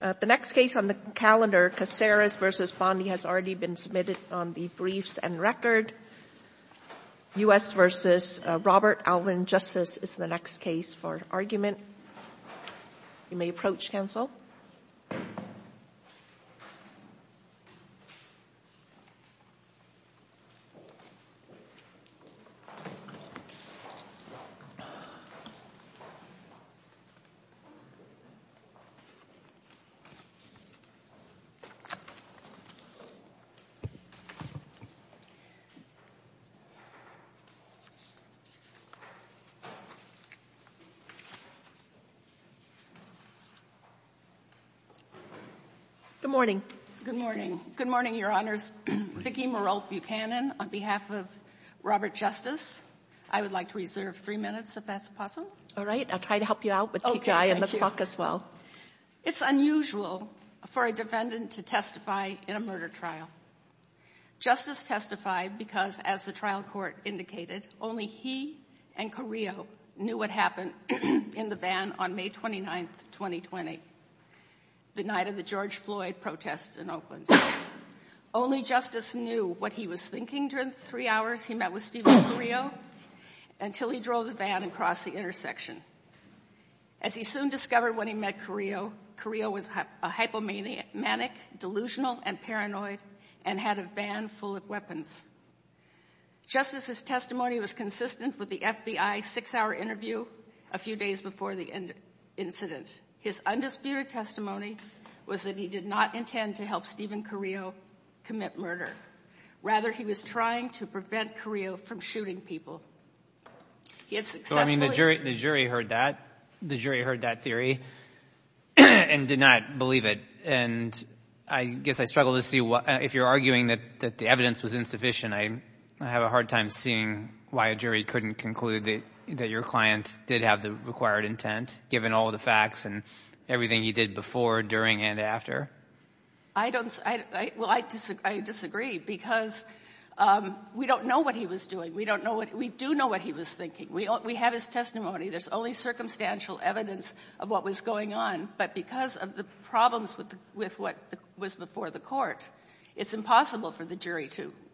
The next case on the calendar, Caceres v. Bondi, has already been submitted on the briefs and record. U.S. v. Robert Alvin Justus is the next case for argument. You may approach, Counsel. Good morning. Good morning. Good morning, Your Honors. Vicki Marolt Buchanan, on behalf of Robert Justus. I would like to reserve three minutes, if that's possible. All right. I'll try to help you out, but keep your eye on the clock as well. Okay. It's unusual for a defendant to testify in a murder trial. Justus testified because, as the trial court indicated, only he and Carrillo knew what happened in the van. On May 29, 2020, the night of the George Floyd protests in Oakland. Only Justus knew what he was thinking during the three hours he met with Stephen Carrillo until he drove the van across the intersection. As he soon discovered when he met Carrillo, Carrillo was a hypomanic, delusional, and paranoid, and had a van full of weapons. Justus' testimony was consistent with the FBI six-hour interview a few days before the incident. His undisputed testimony was that he did not intend to help Stephen Carrillo commit murder. Rather, he was trying to prevent Carrillo from shooting people. He had successfully— So, I mean, the jury heard that. The jury heard that theory and did not believe it. And I guess I struggle to see what—if you're arguing that the evidence was insufficient, I have a hard time seeing why a jury couldn't conclude that your client did have the required intent, given all of the facts and everything he did before, during, and after. I don't—well, I disagree because we don't know what he was doing. We don't know what—we do know what he was thinking. We have his testimony. There's only circumstantial evidence of what was going on. But because of the problems with what was before the court, it's impossible for the jury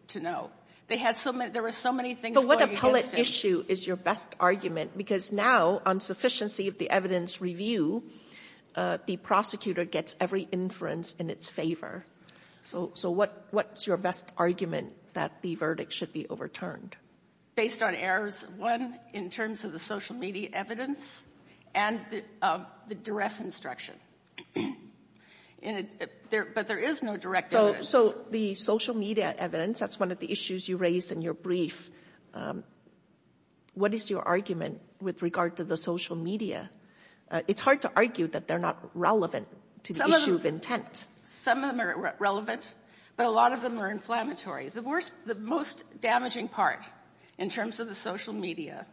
to know. They had so many—there were so many things going against him. But what appellate issue is your best argument? Because now, on sufficiency of the evidence review, the prosecutor gets every inference in its favor. So what's your best argument that the verdict should be overturned? Based on errors, one, in terms of the social media evidence and the duress instruction. But there is no direct evidence. So the social media evidence, that's one of the issues you raised in your brief. What is your argument with regard to the social media? It's hard to argue that they're not relevant to the issue of intent. Some of them are relevant, but a lot of them are inflammatory. The worst—the most damaging part in terms of the social media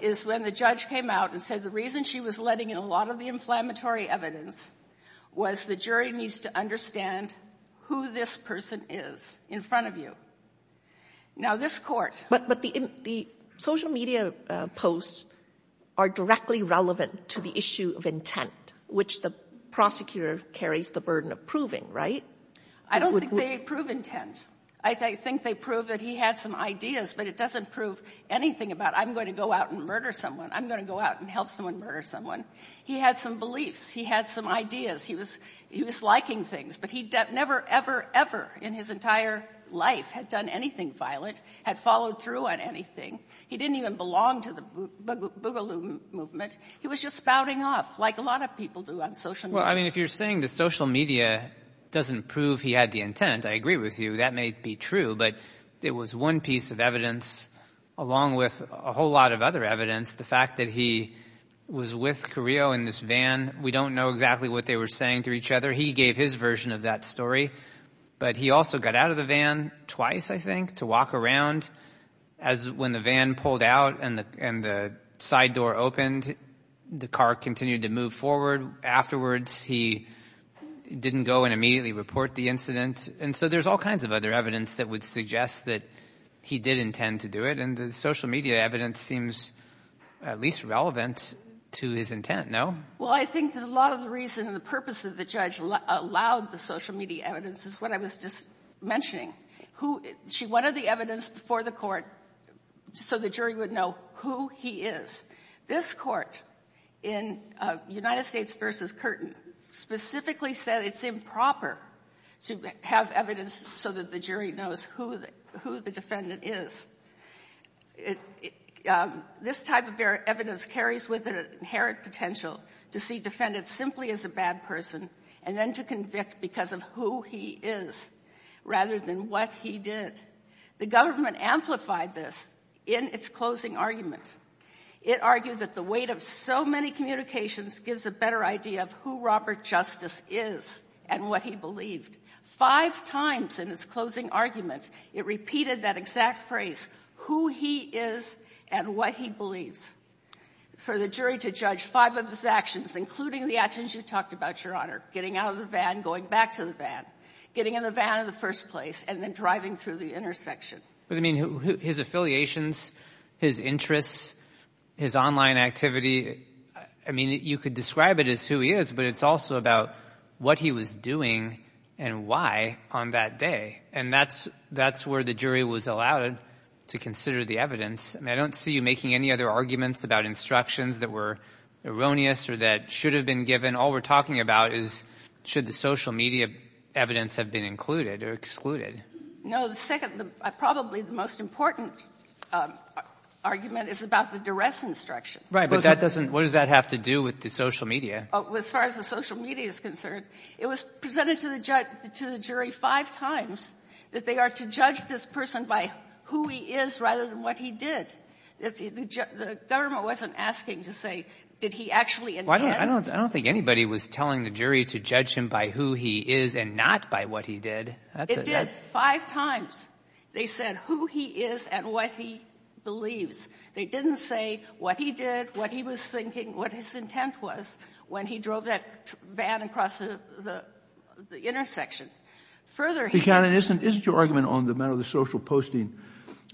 is when the judge came out and said the reason she was letting in a lot of the inflammatory evidence was the jury needs to understand who this person is in front of you. Now, this Court— But the social media posts are directly relevant to the issue of intent, which the prosecutor carries the burden of proving, right? I don't think they prove intent. I think they prove that he had some ideas, but it doesn't prove anything about I'm going to go out and murder someone. I'm going to go out and help someone murder someone. He had some beliefs. He had some ideas. He was liking things, but he never, ever, ever in his entire life had done anything violent, had followed through on anything. He didn't even belong to the Boogaloo movement. He was just spouting off, like a lot of people do on social media. Well, I mean, if you're saying the social media doesn't prove he had the intent, I agree with you. That may be true, but it was one piece of evidence, along with a whole lot of other evidence, the fact that he was with Carrillo in this van. We don't know exactly what they were saying to each other. He gave his version of that story, but he also got out of the van twice, I think, to walk around. When the van pulled out and the side door opened, the car continued to move forward. Afterwards, he didn't go and immediately report the incident. And so there's all kinds of other evidence that would suggest that he did intend to do it, and the social media evidence seems at least relevant to his intent, no? Well, I think that a lot of the reason and the purpose of the judge allowed the social media evidence is what I was just mentioning. She wanted the evidence before the Court so the jury would know who he is. This Court in United States v. Curtin specifically said it's improper to have evidence so that the jury knows who the defendant is. This type of evidence carries with it an inherent potential to see defendants simply as a bad person and then to convict because of who he is rather than what he did. The government amplified this in its closing argument. It argued that the weight of so many communications gives a better idea of who Robert Justice is and what he believed. Five times in its closing argument, it repeated that exact phrase, who he is and what he believes. For the jury to judge five of his actions, including the actions you talked about, Your Honor, getting out of the van, going back to the van, getting in the van in the first place, and then driving through the intersection. His affiliations, his interests, his online activity, you could describe it as who he is, but it's also about what he was doing and why on that day. That's where the jury was allowed to consider the evidence. I don't see you making any other arguments about instructions that were erroneous or that should have been given. All we're talking about is should the social media evidence have been included or excluded. No. The second, probably the most important argument is about the duress instruction. Right. But that doesn't – what does that have to do with the social media? As far as the social media is concerned, it was presented to the jury five times that they are to judge this person by who he is rather than what he did. The government wasn't asking to say did he actually intend it. I don't think anybody was telling the jury to judge him by who he is and not by what he did. That's it, right? It did five times. They said who he is and what he believes. They didn't say what he did, what he was thinking, what his intent was when he drove that van across the intersection. Further, he — But, Your Honor, isn't your argument on the matter of the social posting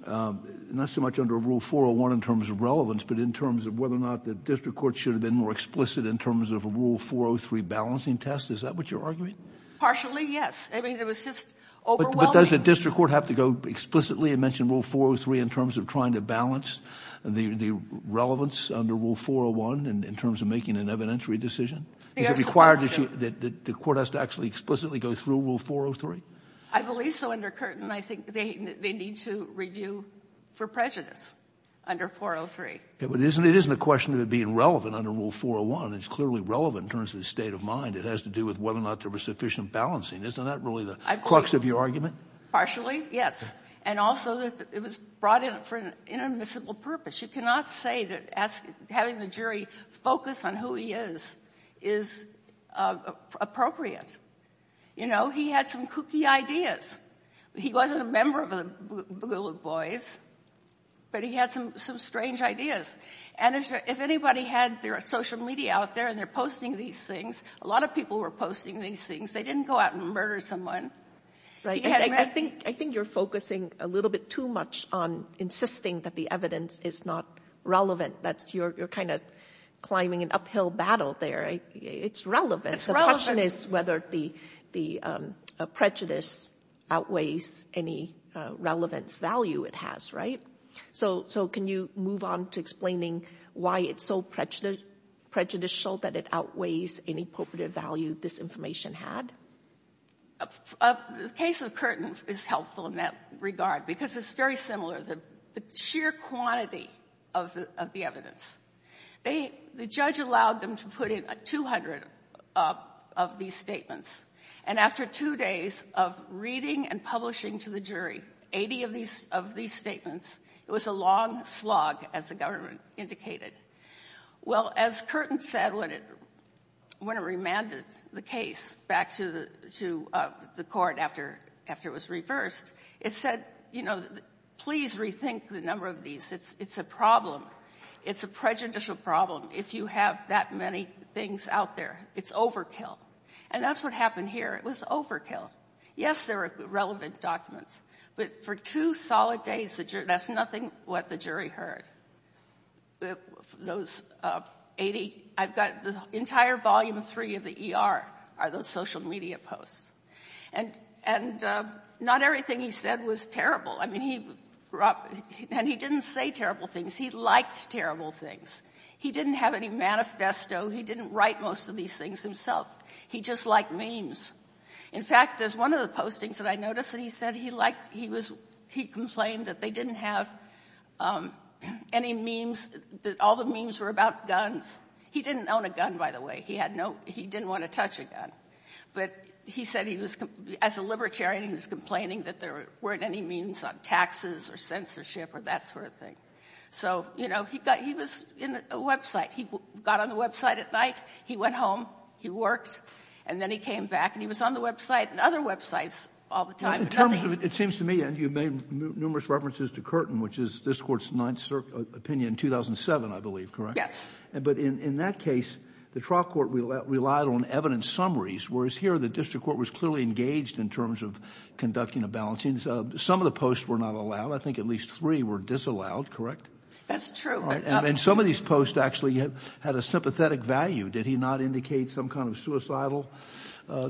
not so much under Rule 401 in terms of relevance, but in terms of whether or not the district court should have been more explicit in terms of a Rule 403 balancing test? Is that what you're arguing? Partially, yes. I mean, it was just overwhelming. But does the district court have to go explicitly and mention Rule 403 in terms of trying to balance the relevance under Rule 401 in terms of making an evidentiary decision? Is it required that the court has to actually explicitly go through Rule 403? I believe so. Under Curtin, I think they need to review for prejudice under 403. But it isn't a question of it being relevant under Rule 401. It's clearly relevant in terms of the state of mind. It has to do with whether or not there was sufficient balancing. Isn't that really the crux of your argument? Partially, yes. And also, it was brought in for an inadmissible purpose. You cannot say that having the jury focus on who he is is appropriate. You know, he had some kooky ideas. He wasn't a member of the Boogaloo Boys, but he had some strange ideas. And if anybody had their social media out there and they're posting these things, a lot of people were posting these things. They didn't go out and murder someone. I think you're focusing a little bit too much on insisting that the evidence is not relevant. You're kind of climbing an uphill battle there. It's relevant. The question is whether the prejudice outweighs any relevance value it has, right? So can you move on to explaining why it's so prejudicial that it outweighs any appropriate value this information had? The case of Curtin is helpful in that regard because it's very similar. The sheer quantity of the evidence. The judge allowed them to put in 200 of these statements. And after two days of reading and publishing to the jury 80 of these statements, it was a long slog, as the government indicated. Well, as Curtin said when it remanded the case back to the court after it was reversed, it said, you know, please rethink the number of these. It's a problem. It's a prejudicial problem if you have that many things out there. It's overkill. And that's what happened here. It was overkill. Yes, there were relevant documents. But for two solid days, that's nothing what the jury heard. Those 80, I've got the entire volume three of the ER are those social media posts. And not everything he said was terrible. I mean, he didn't say terrible things. He liked terrible things. He didn't have any manifesto. He didn't write most of these things himself. He just liked memes. In fact, there's one of the postings that I noticed that he said he liked, he complained that they didn't have any memes, that all the memes were about guns. He didn't own a gun, by the way. He didn't want to touch a gun. But he said he was, as a libertarian, he was complaining that there weren't any memes on taxes or censorship or that sort of thing. So, you know, he was in a website. He got on the website at night. He went home. He worked. And then he came back, and he was on the website and other websites all the time. It seems to me, and you've made numerous references to Curtin, which is this Court's ninth opinion in 2007, I believe, correct? Yes. But in that case, the trial court relied on evidence summaries, whereas here the district court was clearly engaged in terms of conducting a balancing. Some of the posts were not allowed. I think at least three were disallowed, correct? That's true. And some of these posts actually had a sympathetic value. Did he not indicate some kind of suicidal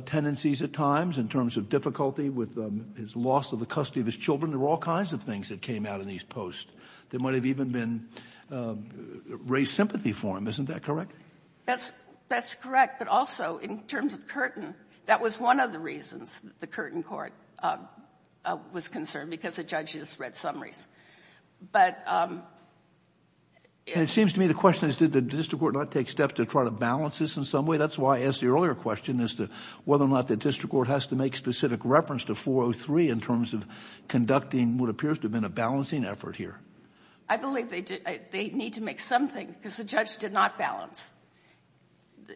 tendencies at times in terms of difficulty with his loss of the custody of his children? There were all kinds of things that came out in these posts. There might have even been raised sympathy for him. Isn't that correct? That's correct. But also, in terms of Curtin, that was one of the reasons the Curtin court was concerned, because the judges read summaries. And it seems to me the question is, did the district court not take steps to try to balance this in some way? That's why I asked the earlier question as to whether or not the district court has to make specific reference to 403 in terms of conducting what appears to have been a balancing effort here. I believe they need to make something, because the judge did not balance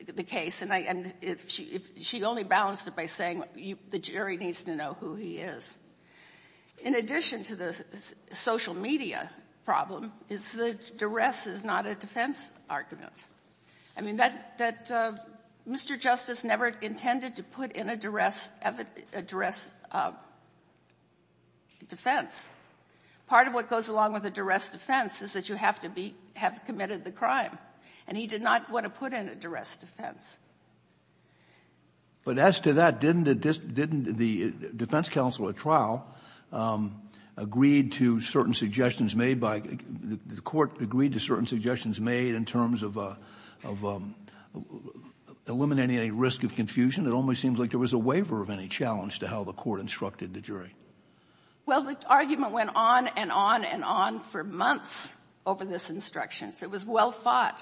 the case. And she only balanced it by saying the jury needs to know who he is. In addition to the social media problem is that duress is not a defense argument. I mean, that Mr. Justice never intended to put in a duress defense. Part of what goes along with a duress defense is that you have to be — have committed the crime. And he did not want to put in a duress defense. But as to that, didn't the defense counsel at trial agreed to certain suggestions made by — the court agreed to certain suggestions made in terms of eliminating any risk of confusion? It almost seems like there was a waiver of any challenge to how the court instructed the jury. Well, the argument went on and on and on for months over this instruction. So it was well thought.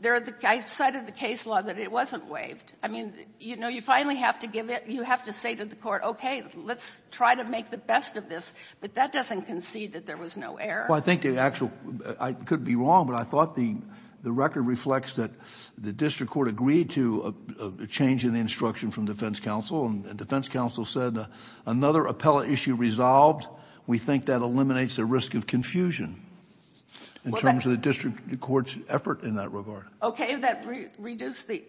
There are — I cited the case law that it wasn't waived. I mean, you know, you finally have to give it — you have to say to the court, okay, let's try to make the best of this. But that doesn't concede that there was no error. Well, I think the actual — I could be wrong, but I thought the record reflects that the district court agreed to a change in the instruction from defense counsel, and defense counsel said another appellate issue resolved. We think that eliminates the risk of confusion in terms of the district court's effort in that regard. That reduced the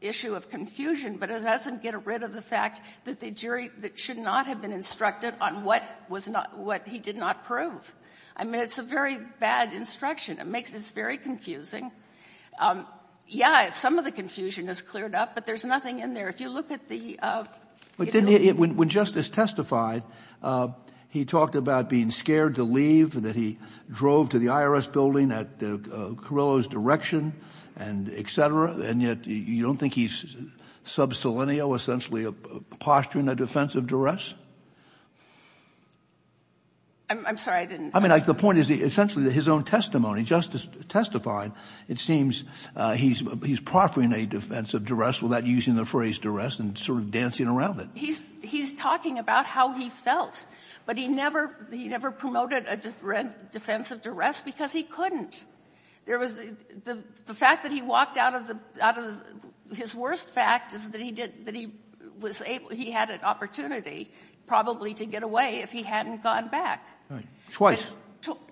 issue of confusion, but it doesn't get rid of the fact that the jury should not have been instructed on what was not — what he did not prove. I mean, it's a very bad instruction. It makes this very confusing. Yeah, some of the confusion is cleared up, but there's nothing in there. If you look at the — But didn't he — when Justice testified, he talked about being scared to leave, that he drove to the IRS building at Carrillo's direction and et cetera, and yet you don't think he's subselenial, essentially posturing a defense of duress? I'm sorry, I didn't — I mean, the point is essentially that his own testimony, Justice testified, it seems he's proffering a defense of duress without using the phrase duress and sort of dancing around it. He's talking about how he felt. But he never — he never promoted a defense of duress because he couldn't. There was — the fact that he walked out of the — out of — his worst fact is that he did — that he was able — he had an opportunity probably to get away if he hadn't gone back. Right. Twice.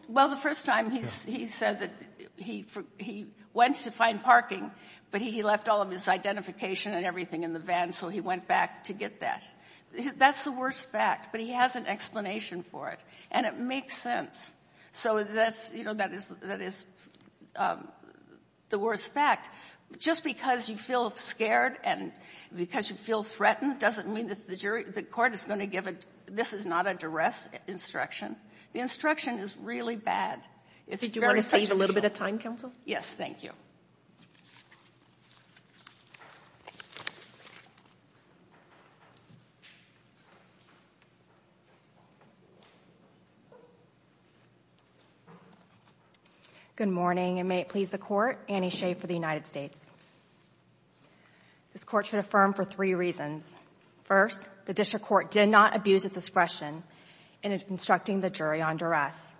Well, the first time he said that he went to find parking, but he left all of his identification and everything in the van, so he went back to get that. That's the worst fact, but he has an explanation for it, and it makes sense. So that's — you know, that is — that is the worst fact. Just because you feel scared and because you feel threatened doesn't mean that the jury — the court is going to give a — this is not a duress instruction. The instruction is really bad. It's very substantial. Did you want to save a little bit of time, counsel? Yes, thank you. Good morning, and may it please the Court, Annie Shea for the United States. This Court should affirm for three reasons. First, the district court did not abuse its discretion in instructing the jury on duress.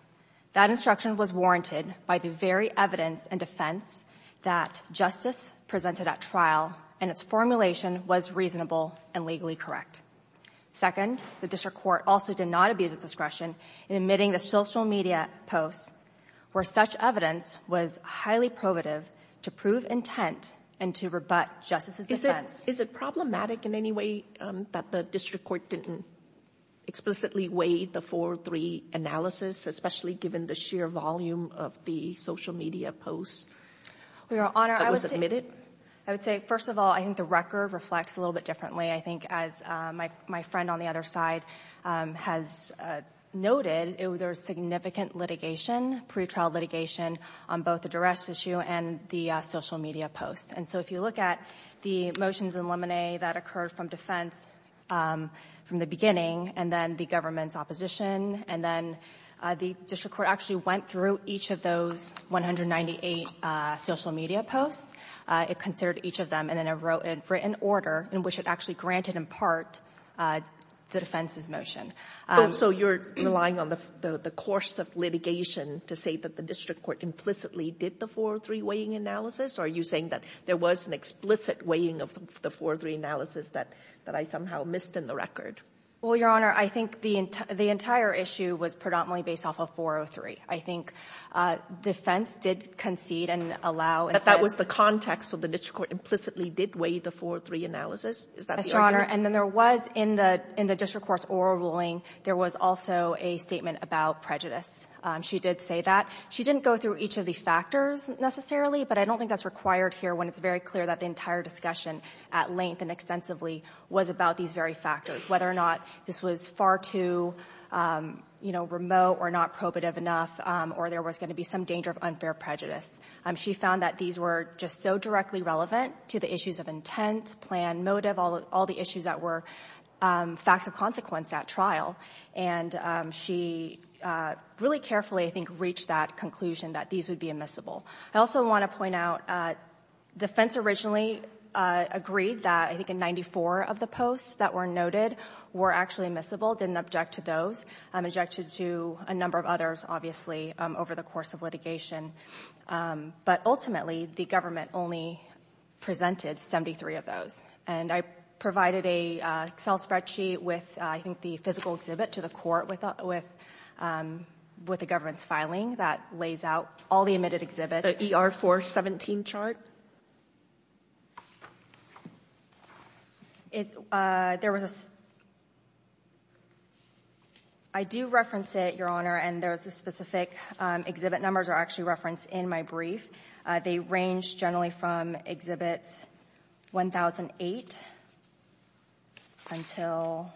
That instruction was warranted by the very evidence and defense that justice presented at trial, and its formulation was reasonable and legally correct. Second, the district court also did not abuse its discretion in admitting the social media posts, where such evidence was highly probative to prove intent and to rebut justice's defense. Is it — is it problematic in any way that the district court didn't explicitly weigh the 4-3 analysis, especially given the sheer volume of the social media posts that were submitted? Well, Your Honor, I would say — I would say, first of all, I think the record reflects a little bit differently. I think, as my friend on the other side has noted, there was significant litigation, pretrial litigation, on both the duress issue and the social media posts. And so if you look at the motions in Lemonnet that occurred from defense from the government's opposition, and then the district court actually went through each of those 198 social media posts. It considered each of them, and then it wrote a written order in which it actually granted in part the defense's motion. So you're relying on the course of litigation to say that the district court implicitly did the 4-3 weighing analysis? Or are you saying that there was an explicit weighing of the 4-3 analysis that I somehow missed in the record? Well, Your Honor, I think the entire issue was predominantly based off of 4-3. I think defense did concede and allow — But that was the context, so the district court implicitly did weigh the 4-3 analysis? Is that the argument? And then there was, in the district court's oral ruling, there was also a statement about prejudice. She did say that. She didn't go through each of the factors necessarily, but I don't think that's required here when it's very clear that the entire discussion at length and extensively was about these very factors, whether or not this was far too remote or not probative enough, or there was going to be some danger of unfair prejudice. She found that these were just so directly relevant to the issues of intent, plan, motive, all the issues that were facts of consequence at trial. And she really carefully, I think, reached that conclusion that these would be admissible. I also want to point out defense originally agreed that, I think, in 94 of the posts that were noted were actually admissible, didn't object to those, objected to a number of others, obviously, over the course of litigation. But ultimately, the government only presented 73 of those. And I provided an Excel spreadsheet with, I think, the physical exhibit to the court with the government's filing that lays out all the admitted exhibits. The ER-417 chart? I do reference it, Your Honor, and the specific exhibit numbers are actually referenced in my brief. They range generally from exhibit 1008 until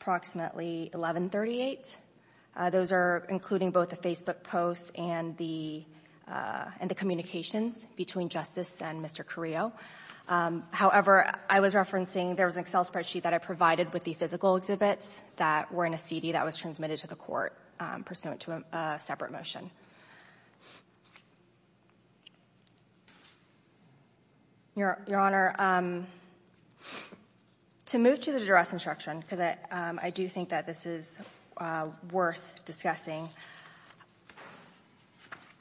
approximately 1138. Those are including both the Facebook posts and the communications between Justice and Mr. Carrillo. However, I was referencing there was an Excel spreadsheet that I provided with the physical exhibits that were in a CD that was transmitted to the court pursuant to a separate motion. Your Honor, to move to the duress instruction, because I do think that this is worth discussing,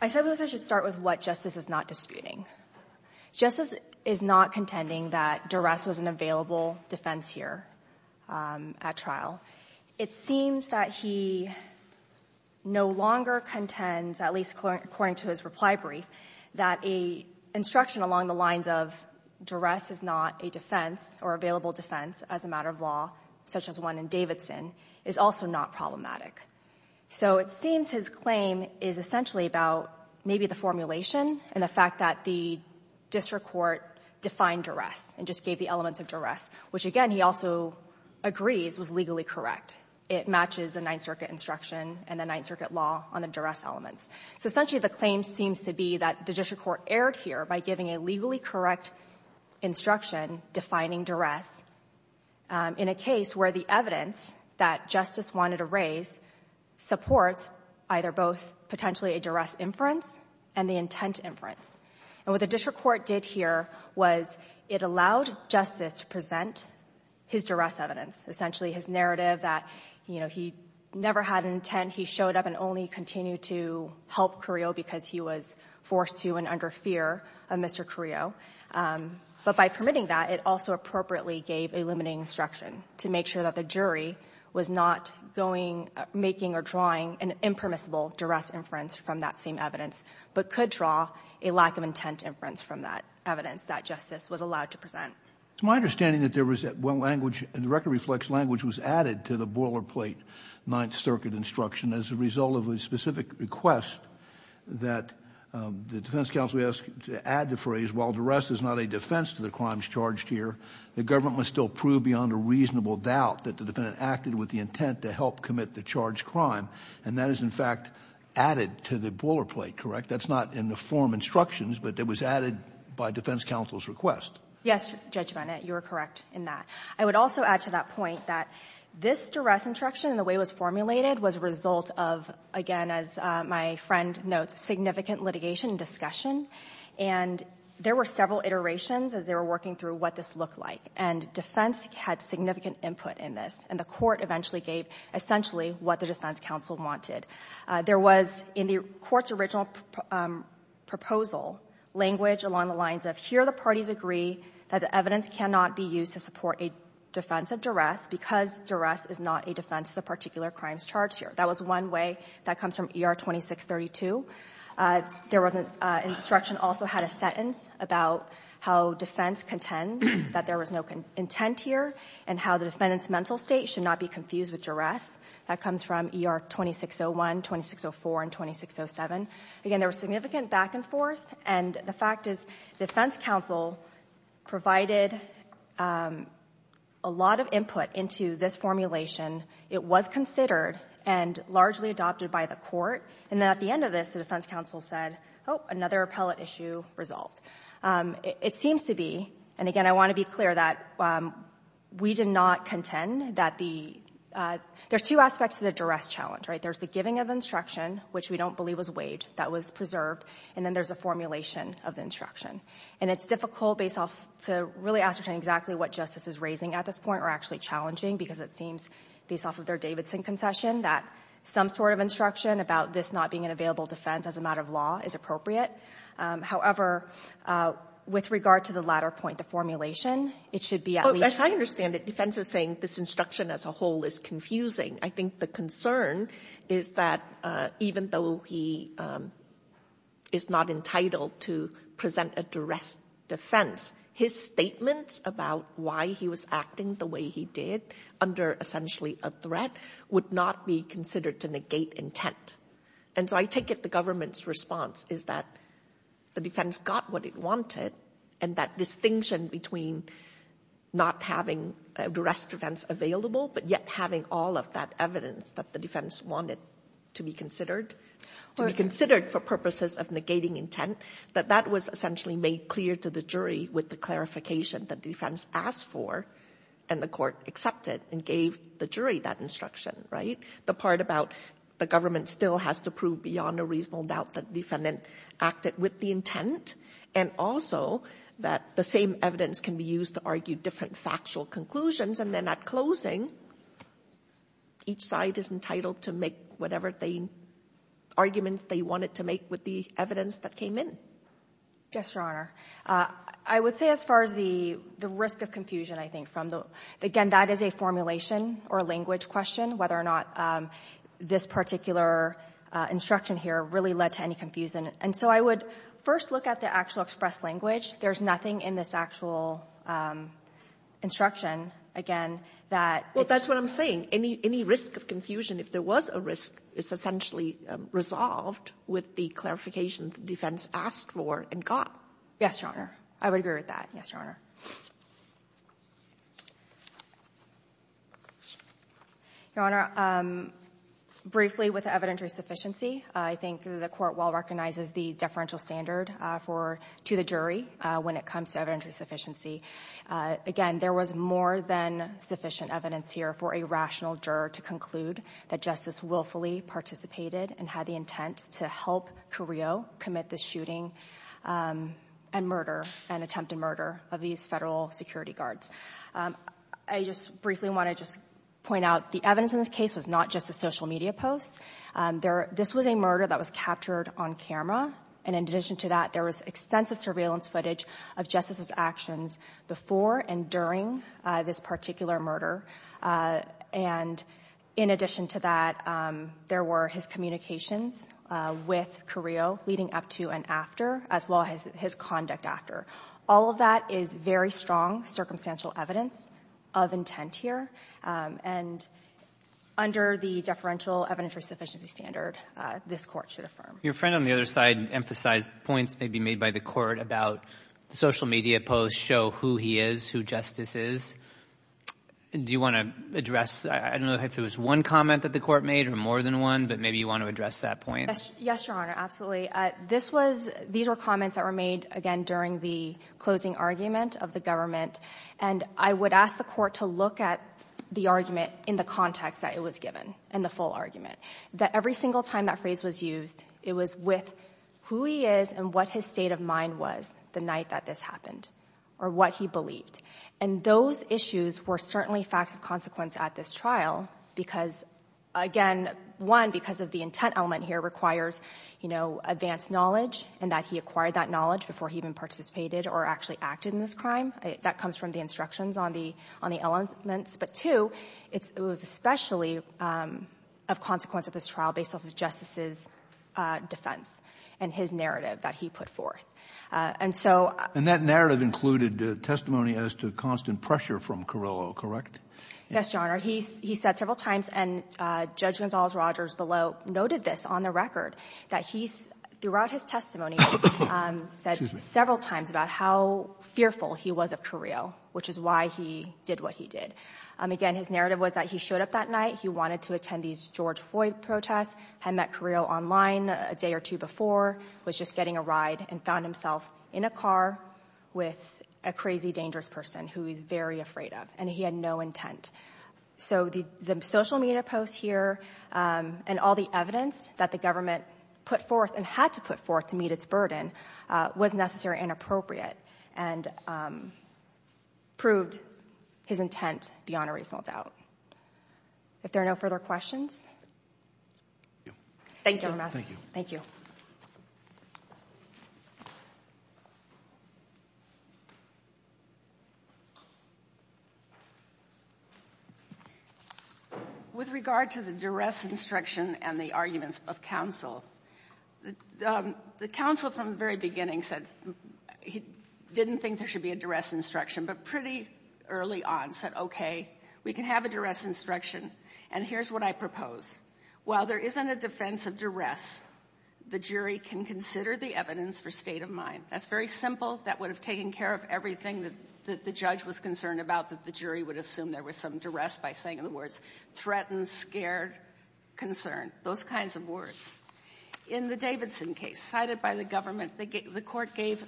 I said we should start with what Justice is not disputing. Justice is not contending that duress was an available defense here at trial. It seems that he no longer contends, at least according to his reply brief, that an instruction along the lines of duress is not a defense or available defense as a matter of law, such as one in Davidson, is also not problematic. So it seems his claim is essentially about maybe the formulation and the fact that the district court defined duress and just gave the elements of duress, which, again, he also agrees was legally correct. It matches the Ninth Circuit instruction and the Ninth Circuit law on the duress elements. So essentially the claim seems to be that the district court erred here by giving a legally correct instruction defining duress in a case where the evidence that Justice wanted to raise supports either both potentially a duress inference and the intent inference. And what the district court did here was it allowed Justice to present his duress evidence, essentially his narrative that, you know, he never had an intent. He showed up and only continued to help Carrillo because he was forced to and under fear of Mr. Carrillo. But by permitting that, it also appropriately gave a limiting instruction to make sure that the jury was not going, making or drawing an impermissible duress inference from that same evidence, but could draw a lack of intent inference from that evidence that Justice was allowed to present. It's my understanding that there was one language, the record reflects language was added to the boilerplate Ninth Circuit instruction as a result of a specific request that the defense counsel asked to add the phrase, while duress is not a defense to the crimes charged here, the government must still prove beyond a reasonable doubt that the defendant acted with the intent to help commit the charged crime. And that is, in fact, added to the boilerplate, correct? That's not in the form instructions, but it was added by defense counsel's request. Yes, Judge Bennett, you are correct in that. I would also add to that point that this duress instruction and the way it was formulated was a result of, again, as my friend notes, significant litigation and discussion. And there were several iterations as they were working through what this looked like, and defense had significant input in this. And the court eventually gave essentially what the defense counsel wanted. There was, in the court's original proposal, language along the lines of here the parties agree that the evidence cannot be used to support a defense of duress because duress is not a defense of the particular crimes charged here. That was one way that comes from ER 2632. There was an instruction also had a sentence about how defense contends that there was no intent here and how the defendant's mental state should not be confused with duress. That comes from ER 2601, 2604, and 2607. Again, there was significant back and forth. And the fact is defense counsel provided a lot of input into this formulation. It was considered and largely adopted by the court. And then at the end of this, the defense counsel said, oh, another appellate issue resolved. It seems to be, and again, I want to be clear that we did not contend that the – there's two aspects to the duress challenge, right? There's the giving of instruction, which we don't believe was waived, that was preserved, and then there's a formulation of instruction. And it's difficult based off – to really ascertain exactly what justice is raising at this point or actually challenging because it seems based off of their Davidson concession that some sort of instruction about this not being an available defense as a matter of law is appropriate. However, with regard to the latter point, the formulation, it should be at least Well, as I understand it, defense is saying this instruction as a whole is confusing. I think the concern is that even though he is not entitled to present a duress defense, his statements about why he was acting the way he did under essentially a threat would not be considered to negate intent. And so I take it the government's response is that the defense got what it wanted and that distinction between not having a duress defense available but yet having all of that evidence that the defense wanted to be considered, to be considered for purposes of negating intent, that that was essentially made clear to the jury with the clarification that the defense asked for and the court accepted and gave the jury that instruction, right? I think the part about the government still has to prove beyond a reasonable doubt that the defendant acted with the intent and also that the same evidence can be used to argue different factual conclusions. And then at closing, each side is entitled to make whatever arguments they wanted to make with the evidence that came in. Yes, Your Honor. I would say as far as the risk of confusion, I think, again, that is a formulation or a language question, whether or not this particular instruction here really led to any confusion. And so I would first look at the actual expressed language. There's nothing in this actual instruction, again, that it's just the same. Well, that's what I'm saying. Any risk of confusion, if there was a risk, is essentially resolved with the clarification the defense asked for and got. Yes, Your Honor. I would agree with that. Yes, Your Honor. Your Honor, briefly with evidentiary sufficiency, I think the court well recognizes the deferential standard for to the jury when it comes to evidentiary sufficiency. Again, there was more than sufficient evidence here for a rational juror to conclude that Justice willfully participated and had the intent to help Carrillo commit the shooting and murder and attempted murder of these federal security guards. I just briefly want to just point out the evidence in this case was not just a social media post. This was a murder that was captured on camera. And in addition to that, there was extensive surveillance footage of Justice's actions before and during this particular murder. And in addition to that, there were his communications with Carrillo leading up to and after, as well as his conduct after. All of that is very strong circumstantial evidence of intent here. And under the deferential evidentiary sufficiency standard, this Court should affirm. Your friend on the other side emphasized points maybe made by the Court about social media posts show who he is, who Justice is. Do you want to address? I don't know if there was one comment that the Court made or more than one, but maybe you want to address that point. Yes, Your Honor, absolutely. These were comments that were made, again, during the closing argument of the government. And I would ask the Court to look at the argument in the context that it was given, in the full argument, that every single time that phrase was used, it was with who he is and what his state of mind was the night that this happened or what he believed. And those issues were certainly facts of consequence at this trial because, again, one, because of the intent element here requires, you know, advanced knowledge and that he acquired that knowledge before he even participated or actually acted in this crime. That comes from the instructions on the elements. But, two, it was especially of consequence at this trial based off of Justice's defense and his narrative that he put forth. And so — And that narrative included testimony as to constant pressure from Carrillo, correct? Yes, Your Honor. He said several times, and Judge Gonzales-Rogers below noted this on the record, that he, throughout his testimony — Excuse me. — said several times about how fearful he was of Carrillo, which is why he did what he did. Again, his narrative was that he showed up that night. He wanted to attend these George Floyd protests, had met Carrillo online a day or two before, was just getting a ride and found himself in a car with a crazy, dangerous person who he was very afraid of, and he had no intent. So the social media posts here and all the evidence that the government put forth and had to put forth to meet its burden was necessary and appropriate and proved his intent beyond a reasonable doubt. If there are no further questions — Thank you. Thank you. Thank you. With regard to the duress instruction and the arguments of counsel, the counsel from the very beginning said he didn't think there should be a duress instruction, but pretty early on said, okay, we can have a duress instruction, and here's what I propose. While there isn't a defense of duress, the jury can consider the evidence for state of mind. That's very simple. That would have taken care of everything that the judge was concerned about, that the jury would assume there was some duress by saying, in other words, In the Davidson case cited by the government, the court gave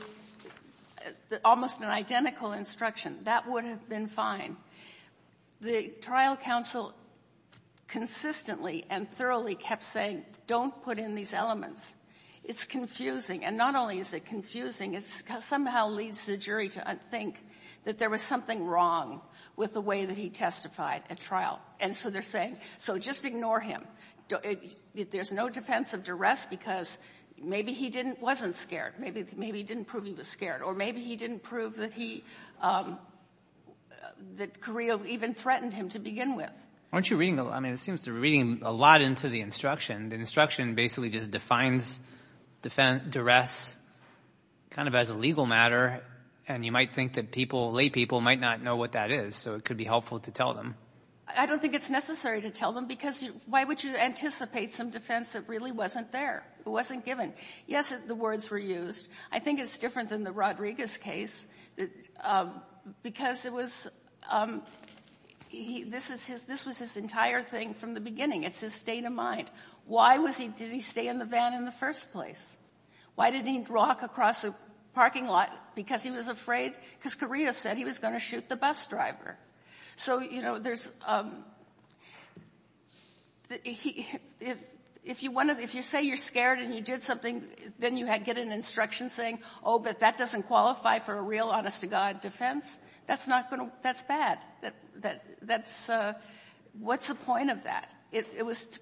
almost an identical instruction. That would have been fine. The trial counsel consistently and thoroughly kept saying, don't put in these elements. It's confusing. And not only is it confusing, it somehow leads the jury to think that there was something wrong with the way that he testified at trial. And so they're saying, so just ignore him. There's no defense of duress because maybe he wasn't scared. Maybe he didn't prove he was scared. Or maybe he didn't prove that he, that Carrillo even threatened him to begin with. Aren't you reading, I mean, it seems to be reading a lot into the instruction. The instruction basically just defines duress kind of as a legal matter, and you might think that people, laypeople, might not know what that is. So it could be helpful to tell them. I don't think it's necessary to tell them because why would you anticipate some defense that really wasn't there, wasn't given? Yes, the words were used. I think it's different than the Rodriguez case because it was, this was his entire thing from the beginning. It's his state of mind. Why did he stay in the van in the first place? Why did he walk across the parking lot? Because he was afraid, because Carrillo said he was going to shoot the bus driver. So, you know, there's, if you say you're scared and you did something, then you get an instruction saying, oh, but that doesn't qualify for a real honest to God defense, that's not going to, that's bad. That's, what's the point of that? It was to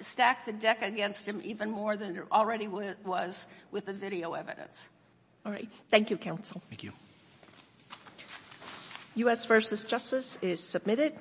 stack the deck against him even more than it already was with the video evidence. All right. Thank you, counsel. Thank you. U.S. versus Justice is submitted.